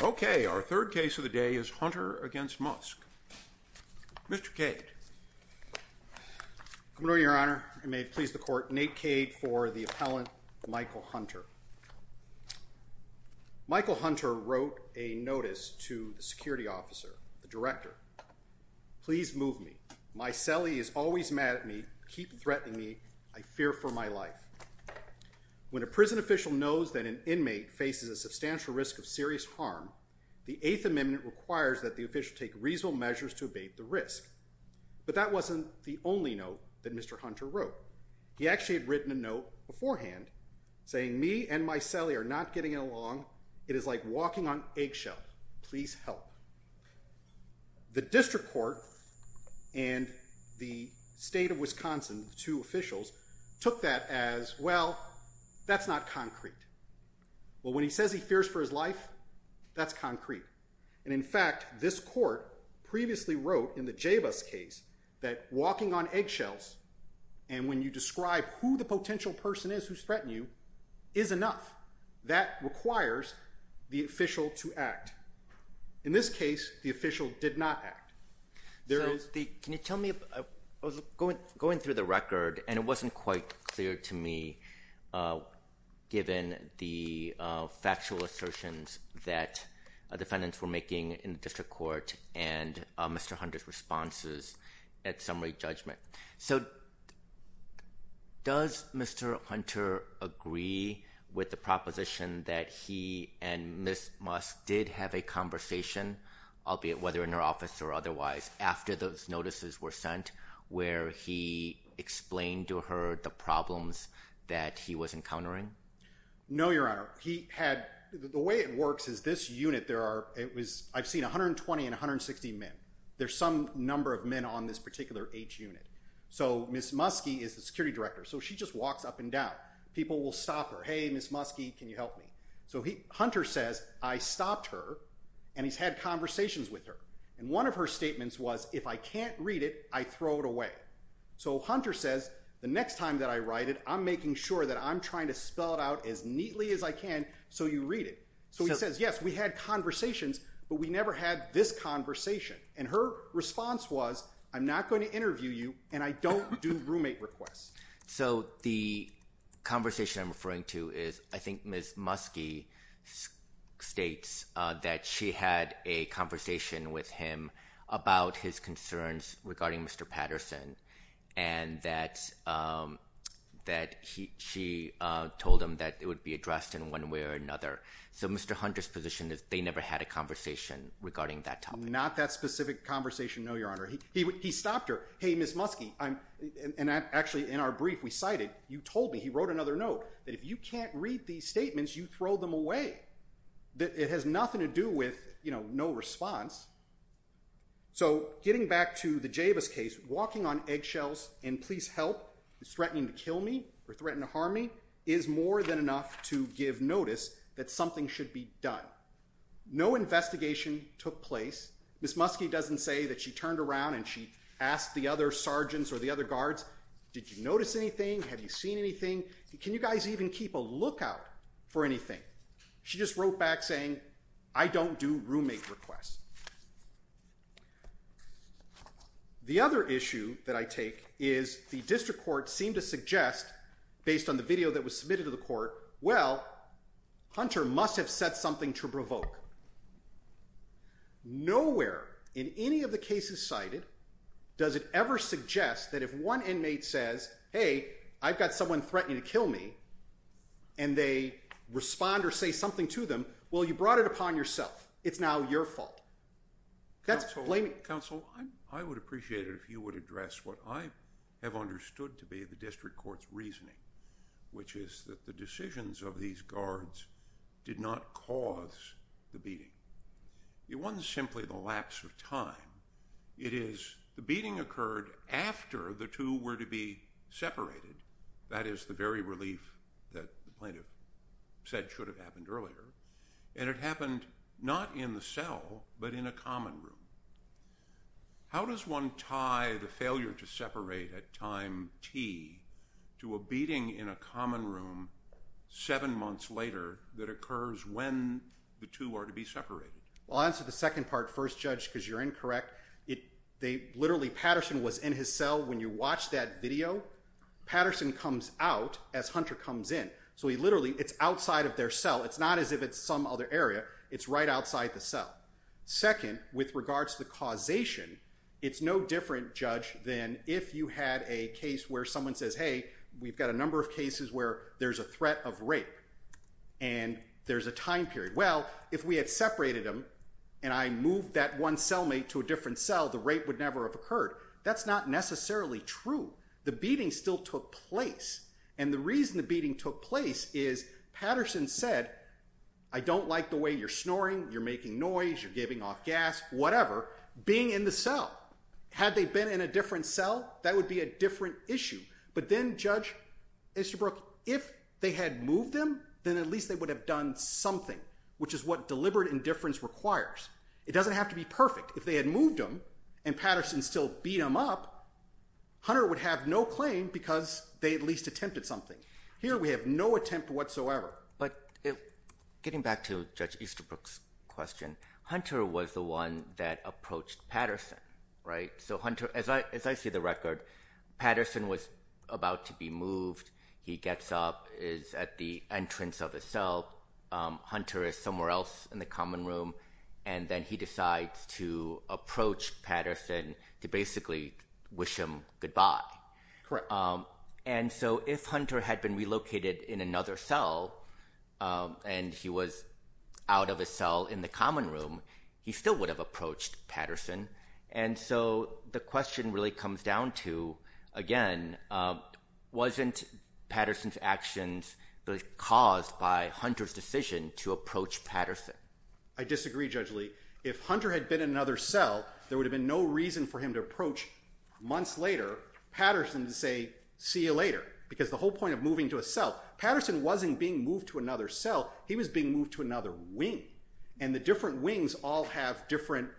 Okay, our third case of the day is Hunter v. Mueske. Mr. Cade. Good morning, your honor. I may please the court. Nate Cade for the appellant, Michael Hunter. Michael Hunter wrote a notice to the security officer, the director. Please move me. My cellie is always mad at me. Keep threatening me. I fear for my life. When a prison official knows that an inmate faces a substantial risk of serious harm, the Eighth Amendment requires that the official take reasonable measures to abate the risk. But that wasn't the only note that Mr. Hunter wrote. He actually had written a note beforehand saying, me and my cellie are not getting along. It is like walking on eggshell. Please help. The district court and the state of Wisconsin, the two officials, took that as, well, that's not true. That's concrete. And in fact, this court previously wrote in the Jabez case that walking on eggshells, and when you describe who the potential person is who's threatening you, is enough. That requires the official to act. In this case, the official did not act. There is the- Nate Cade Can you tell me, I was going through the record, and it wasn't quite clear to me, given the factual assertions that defendants were making in the district court and Mr. Hunter's responses at summary judgment. So does Mr. Hunter agree with the proposition that he and Ms. Musk did have a conversation, albeit whether in her office or otherwise, after those notices were sent where he explained to her the problems that he was encountering? Nate Cade No, Your Honor. He had, the way it works is this unit, there are, it was, I've seen 120 and 160 men. There's some number of men on this particular age unit. So Ms. Muskie is the security director. So she just walks up and down. People will stop her. Hey, Ms. Muskie, can you help me? So Hunter says, I stopped her, and he's had conversations with her. And one of her statements was, if I can't read it, I throw it away. So Hunter says, the next time that I write it, I'm making sure that I'm trying to spell it out as neatly as I can so you read it. So he says, yes, we had conversations, but we never had this conversation. And her response was, I'm not going to interview you, and I don't do roommate requests. So the conversation I'm referring to is, I think Ms. Muskie states that she had a and that she told him that it would be addressed in one way or another. So Mr. Hunter's position is they never had a conversation regarding that topic. Not that specific conversation, no, Your Honor. He stopped her. Hey, Ms. Muskie, I'm, and actually in our brief, we cited, you told me, he wrote another note, that if you can't read these statements, you throw them away. It has nothing to do with, you know, no response. So getting back to the Jabez case, walking on eggshells and please help, threatening to kill me or threatening to harm me, is more than enough to give notice that something should be done. No investigation took place. Ms. Muskie doesn't say that she turned around and she asked the other sergeants or the other guards, did you notice anything? Have you seen anything? Can you guys even keep a lookout for anything? She just wrote back saying, I don't do roommate requests. The other issue that I take is the district court seemed to suggest, based on the video that was submitted to the court, well, Hunter must have said something to provoke. Nowhere in any of the cases cited does it ever suggest that if one inmate says, hey, I've got someone threatening to kill me, and they respond or say something to them, well, you brought it upon yourself. It's now your fault. That's blaming. Counsel, I would appreciate it if you would address what I have understood to be the district court's reasoning, which is that the decisions of these guards did not cause the beating. It wasn't simply the lapse of time. It is the beating occurred after the two were to be separated. That is the very relief that the plaintiff said should have happened earlier. And it happened not in the cell, but in a common room. How does one tie the failure to separate at time T to a beating in a common room seven months later that occurs when the two are to be separated? Well, I'll answer the second part first, Judge, because you're incorrect. Literally, Patterson was in his cell when you watched that video. Patterson comes out as Hunter comes in. So he literally, it's outside of their cell. It's not as if it's some other area. It's right outside the cell. Second, with regards to the causation, it's no different, Judge, than if you had a case where someone says, hey, we've got a number of cases where there's a threat of rape, and there's a time period. Well, if we had separated them, and I moved that one cellmate to a different cell, the rape would never have occurred. That's not necessarily true. The beating still took place. And the reason the beating took place is Patterson said, I don't like the way you're snoring, you're making noise, you're giving off gas, whatever, being in the cell. Had they been in a different cell, that would be a different issue. But then, Judge Easterbrook, if they had moved them, then at least they would have done something, which is what deliberate indifference requires. It doesn't have to be perfect. If they had moved them, and Patterson still beat him up, Hunter would have no claim because they at least attempted something. Here, we have no attempt whatsoever. But getting back to Judge Easterbrook's question, Hunter was the one that approached Patterson, right? So Hunter, as I see the record, Patterson was about to be moved. He gets up, is at the entrance of the cell. Hunter is somewhere else in the common room, and then he decides to approach Patterson to basically wish him goodbye. And so if Hunter had been relocated in another cell, and he was out of a cell in the common room, he still would have been moved to another cell. So, again, wasn't Patterson's actions caused by Hunter's decision to approach Patterson? I disagree, Judge Lee. If Hunter had been in another cell, there would have been no reason for him to approach, months later, Patterson to say, see you later. Because the whole point of moving to a cell, Patterson wasn't being moved to another cell, he was being moved to another wing. And the different wings all have different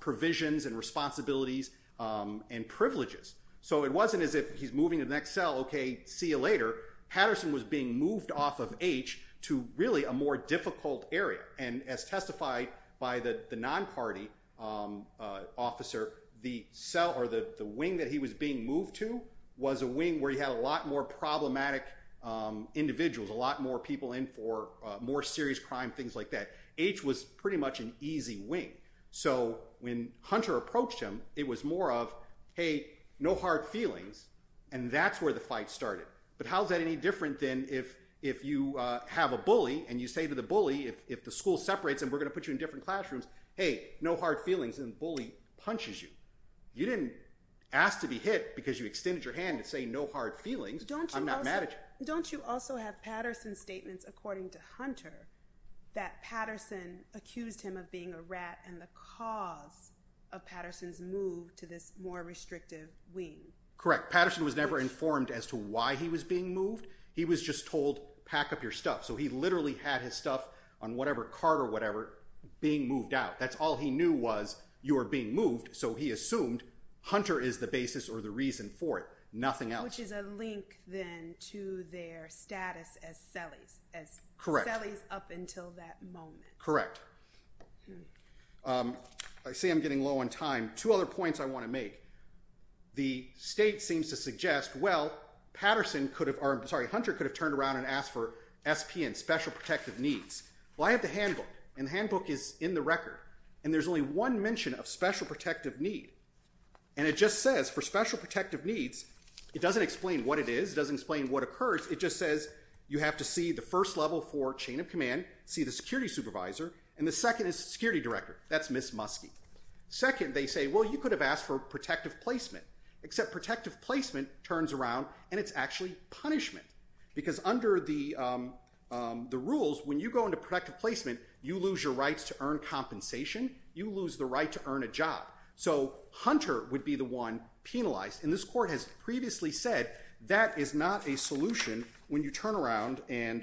provisions and responsibilities and privileges. So it wasn't as if he's moving to the next cell, okay, see you later. Patterson was being moved off of H to really a more difficult area. And as testified by the non-party officer, the cell or the wing that he was being moved to was a wing where he had a lot more problematic individuals, a lot more people in for So when Hunter approached him, it was more of, hey, no hard feelings, and that's where the fight started. But how is that any different than if you have a bully and you say to the bully, if the school separates and we're gonna put you in different classrooms, hey, no hard feelings, and the bully punches you. You didn't ask to be hit because you extended your hand to say no hard feelings, I'm not mad at you. Don't you also have Patterson's statements, according to Hunter, that the cause of Patterson's move to this more restrictive wing. Correct. Patterson was never informed as to why he was being moved. He was just told pack up your stuff. So he literally had his stuff on whatever cart or whatever being moved out. That's all he knew was you were being moved. So he assumed Hunter is the basis or the reason for it, nothing else. Which is a link then to their status as I see I'm getting low on time. Two other points I want to make. The state seems to suggest, well, Hunter could have turned around and asked for SPN, special protective needs. Well, I have the handbook, and the handbook is in the record, and there's only one mention of special protective need. And it just says for special protective needs, it doesn't explain what it is, doesn't explain what occurs, it just says you have to see the first level for chain of command, see the security supervisor, and the second is security director. That's Ms. Muskie. Second, they say, well, you could have asked for protective placement. Except protective placement turns around and it's actually punishment. Because under the rules, when you go into protective placement, you lose your rights to earn compensation, you lose the right to earn a job. So Hunter would be the one penalized. And this court has previously said that is not a solution when you turn around and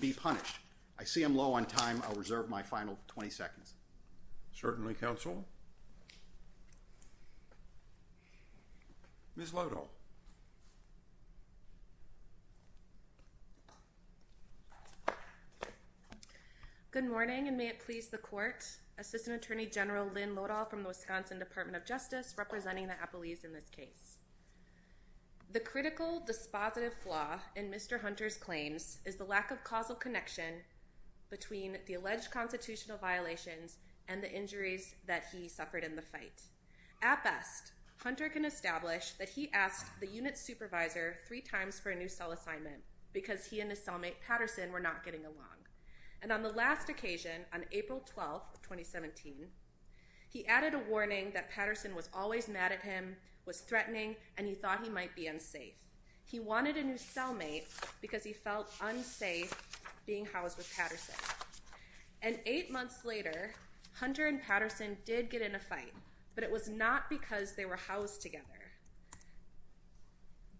be punished. I see I'm low on time. I'll reserve my final 20 seconds. Certainly, counsel. Ms. Lodol. Good morning, and may it please the court. Assistant Attorney General Lynn Lodol from the Wisconsin Department of Justice, representing the Appalachians in this case. The critical dispositive flaw in Mr. Hunter's claims is the lack of causal connection between the alleged constitutional violations and the injuries that he suffered in the fight. At best, Hunter can establish that he asked the unit supervisor three times for a new cell assignment because he and his cellmate Patterson were not getting along. And on the last occasion, on April 12, 2017, he added a warning that Patterson was always mad at him, was threatening, and he thought he might be unsafe. He wanted a new cellmate because he felt unsafe being housed with Patterson. And eight months later, Hunter and Patterson did get in a fight, but it was not because they were housed together.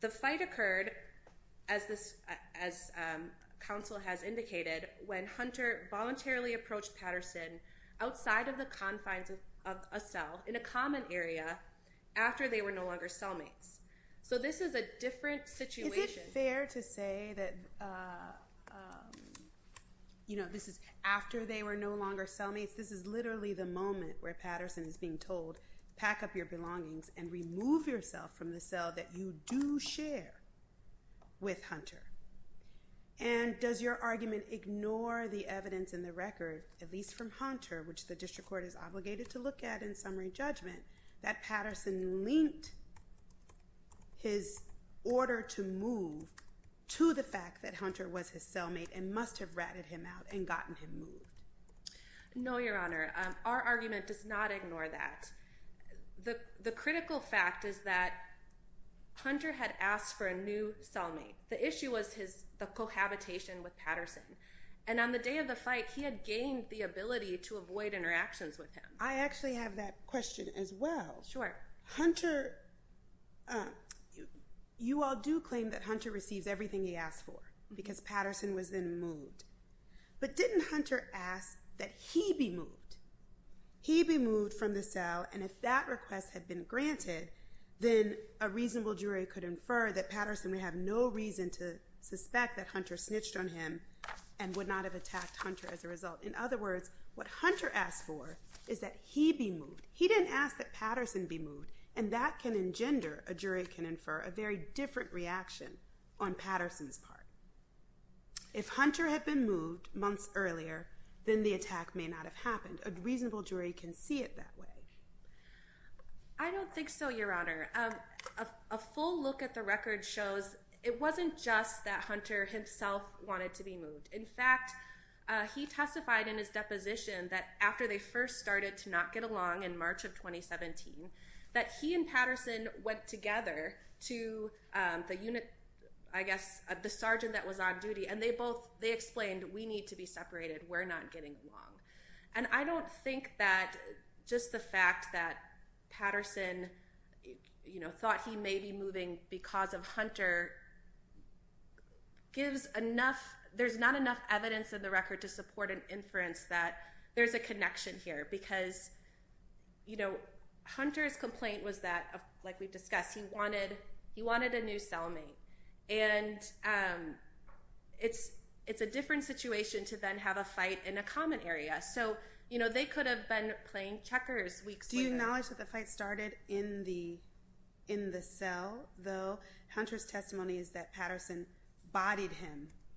The fight occurred, as this, as counsel has indicated, when Hunter voluntarily approached Patterson outside of the confines of a cell in a common area after they were no longer cellmates. So this is a different situation. Is it fair to say that, you know, this is after they were no longer cellmates? This is literally the moment where Patterson is being told, pack up your belongings and remove yourself from the cell that you do share with Hunter. And does your argument ignore the evidence in the record, at least from Hunter, which the Patterson linked his order to move to the fact that Hunter was his cellmate and must have ratted him out and gotten him moved? No, Your Honor. Our argument does not ignore that. The critical fact is that Hunter had asked for a new cellmate. The issue was his, the cohabitation with Patterson. And on the day of the fight, he had gained the ability to avoid interactions with him. I actually have that question as well. Sure. Hunter, you all do claim that Hunter receives everything he asked for because Patterson was then moved. But didn't Hunter ask that he be moved? He be moved from the cell. And if that request had been granted, then a reasonable jury could infer that Patterson would have no reason to suspect that Hunter snitched on him and would not have attacked Hunter as a result. In other words, what Hunter asked for is that he be moved. He didn't ask that Patterson be moved. And that can engender, a jury can infer, a very different reaction on Patterson's part. If Hunter had been moved months earlier, then the attack may not have happened. A reasonable jury can see it that way. I don't think so, Your Honor. A full look at the record shows it wasn't just that he testified in his deposition that after they first started to not get along in March of 2017, that he and Patterson went together to the unit, I guess, the sergeant that was on duty, and they both, they explained, we need to be separated. We're not getting along. And I don't think that just the fact that Patterson, you know, thought he may be moving because of Hunter gives enough, there's not enough evidence in the record to support an inference that there's a connection here. Because, you know, Hunter's complaint was that, like we've discussed, he wanted a new cellmate. And it's a different situation to then have a fight in a common area. So, you know, they could have been playing checkers weeks later. Do you acknowledge that the fight started in the cell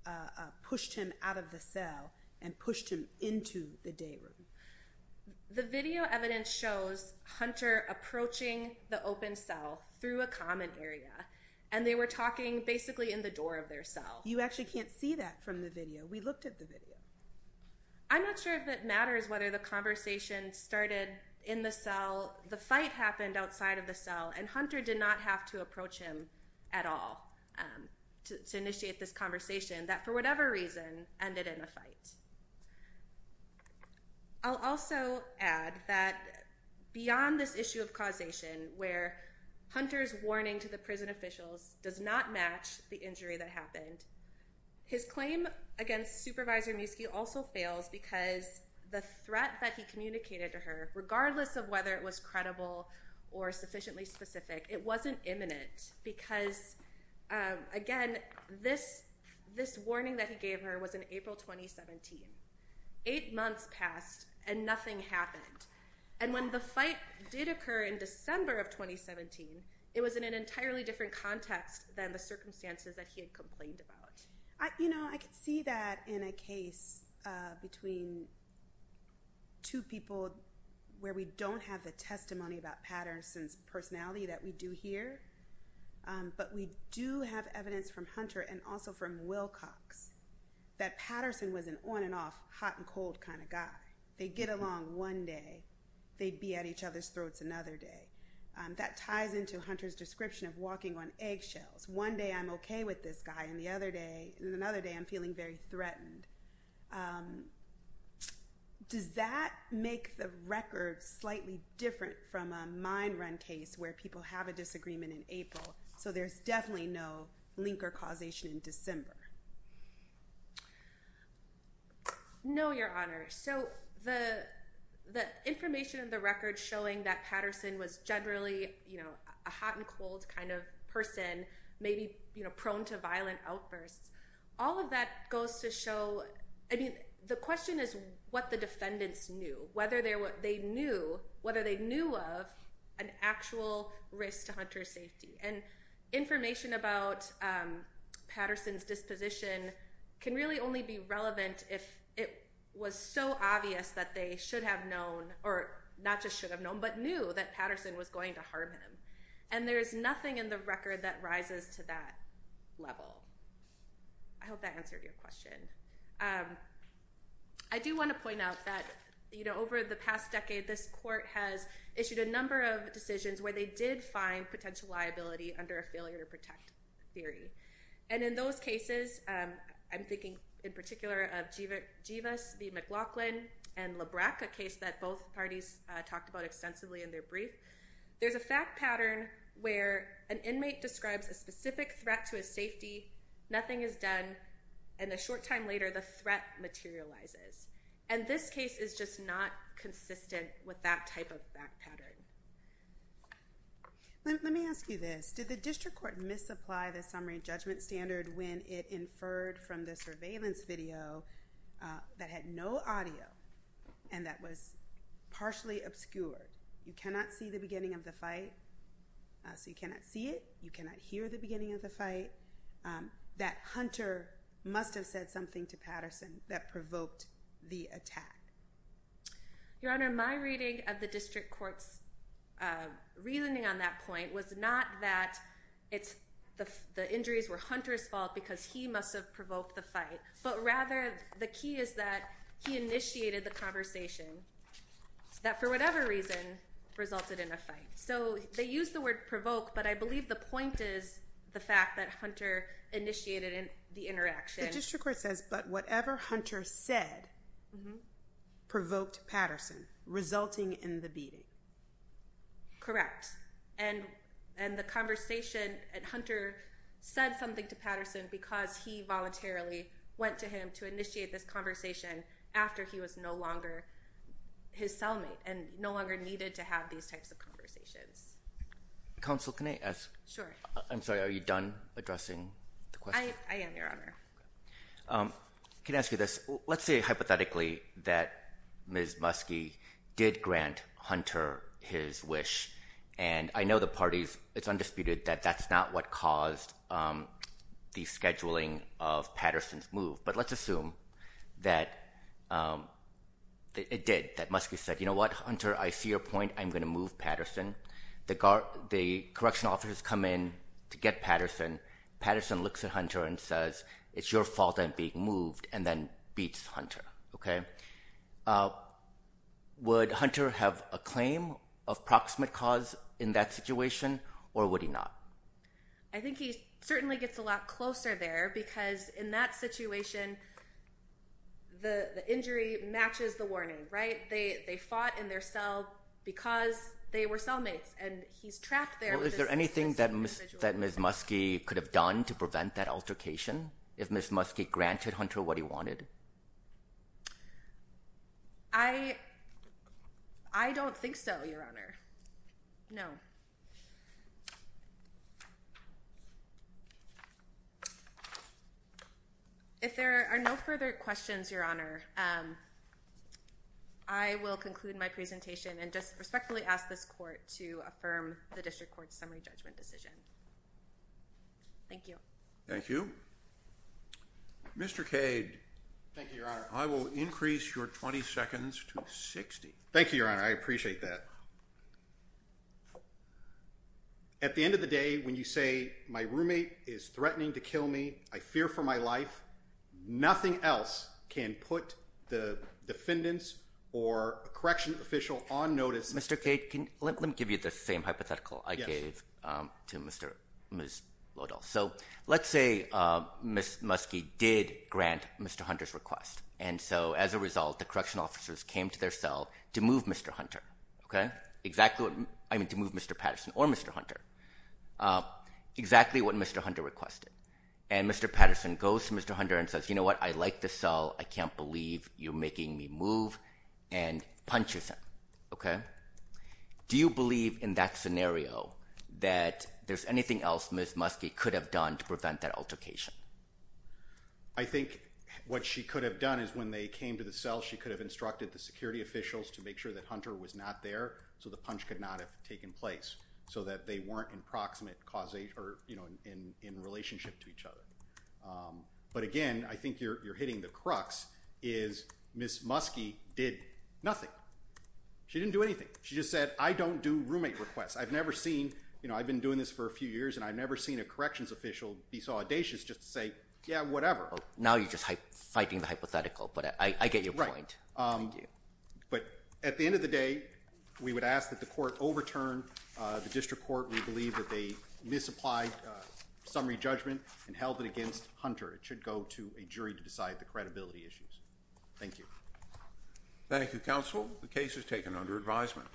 and pushed him out of the cell and pushed him into the day room? The video evidence shows Hunter approaching the open cell through a common area. And they were talking basically in the door of their cell. You actually can't see that from the video. We looked at the video. I'm not sure if it matters whether the conversation started in the cell, the fight happened outside of the cell, and Hunter did not have to approach him at all to initiate this conversation that, for whatever reason, ended in a fight. I'll also add that beyond this issue of causation where Hunter's warning to the prison officials does not match the injury that happened, his claim against Supervisor Muski also fails because the threat that he communicated to her, regardless of whether it was credible or sufficiently specific, it wasn't imminent because, again, this warning that he gave her was in April 2017. Eight months passed and nothing happened. And when the fight did occur in December of 2017, it was in an entirely different context than the circumstances that he had complained about. You know, I could see that in a case between two people where we don't have the testimony about Patterson's personality that we do here, but we do have evidence from Hunter and also from Wilcox that Patterson was an on-and-off, hot-and-cold kind of guy. They'd get along one day, they'd be at each other's throats another day. That ties into Hunter's description of walking on eggshells. One day I'm okay with this guy, and the other day I'm feeling very threatened. Does that make the record slightly different from a mine run case where people have a disagreement in April, so there's definitely no link or causation in December? No, Your Honor. So the information in the record showing that Patterson was generally, you know, a hot-and-cold kind of person, maybe prone to violent outbursts, all of that goes to I mean, the question is what the defendants knew, whether they knew of an actual risk to Hunter's safety. And information about Patterson's disposition can really only be relevant if it was so obvious that they should have known, or not just should have known, but knew that Patterson was going to harm him. And there's nothing in the record that rises to that level. I hope that answered your question. I do want to point out that, you know, over the past decade, this Court has issued a number of decisions where they did find potential liability under a failure to protect theory. And in those cases, I'm thinking in particular of Jivas v. McLaughlin and Labreck, a case that both parties talked about extensively in their brief, there's a fact pattern where an inmate describes a specific threat to his safety, nothing is done, and a short time later, the threat materializes. And this case is just not consistent with that type of fact pattern. Let me ask you this. Did the District Court misapply the summary judgment standard when it inferred from the surveillance video that had no audio and that was partially obscured? You cannot see the beginning of the fight, so you cannot see it. You cannot hear the beginning of the fight. That Hunter must have said something to Patterson that provoked the attack. Your Honor, my reading of the District Court's reasoning on that point was not that the injuries were Hunter's fault because he must have provoked the fight, but rather, the key is that he initiated the conversation that, for whatever reason, resulted in a fight. So they use the word provoke, but I believe the point is the fact that Hunter initiated the interaction. The District Court says, but whatever Hunter said provoked Patterson, resulting in the beating. Correct. And the conversation, Hunter said something to Patterson because he voluntarily went to him to initiate this conversation after he was no longer his cellmate and no longer needed to have these types of conversations. Counsel, can I ask? Sure. I'm sorry, are you done addressing the question? I am, Your Honor. Can I ask you this? Let's say, hypothetically, that Ms. Muskie did grant Hunter his wish. And I know the parties, it's undisputed that that's not what caused the scheduling of Patterson's move. But let's assume that it did, that Muskie said, you know what, Hunter, I see your point, I'm going to move Patterson. The correctional officers come in to get Patterson. Patterson looks at Hunter and says, it's your fault I'm being moved, and then beats Hunter. Okay. Would Hunter have a claim of proximate cause in that situation, or would he not? I think he certainly gets a lot closer there because in that situation, the injury matches the warning, right? They fought in their cell because they were cellmates, and he's trapped there. Is there anything that Ms. Muskie could have done to prevent that from happening? I don't think so, Your Honor. No. If there are no further questions, Your Honor, I will conclude my presentation and just respectfully ask this court to affirm the district court's summary judgment decision. Thank you. Thank you. Mr. Cade. Thank you, Your Honor. I will increase your 20 seconds to 60. Thank you, Your Honor. I appreciate that. At the end of the day, when you say my roommate is threatening to kill me, I fear for my life, nothing else can put the defendants or correctional official on notice. Mr. Cade, let me give you the same hypothetical I gave to Ms. Lodol. So let's say, Ms. Muskie did grant Mr. Hunter's request, and so as a result, the correctional officers came to their cell to move Mr. Patterson or Mr. Hunter, exactly what Mr. Hunter requested. And Mr. Patterson goes to Mr. Hunter and says, you know what? I like the cell. I can't believe you're making me move, and punches him, okay? Do you believe in that scenario that there's a punch? I think what she could have done is when they came to the cell, she could have instructed the security officials to make sure that Hunter was not there, so the punch could not have taken place, so that they weren't in relationship to each other. But again, I think you're hitting the crux, is Ms. Muskie did nothing. She didn't do anything. She just said, I don't do roommate requests. I've been doing this for a few years, and I've never seen a corrections official be so yeah, whatever. Now you're just fighting the hypothetical, but I get your point. But at the end of the day, we would ask that the court overturn the district court. We believe that they misapplied summary judgment and held it against Hunter. It should go to a jury to decide the credibility issues. Thank you. Thank you, counsel. The case is taken under advisement.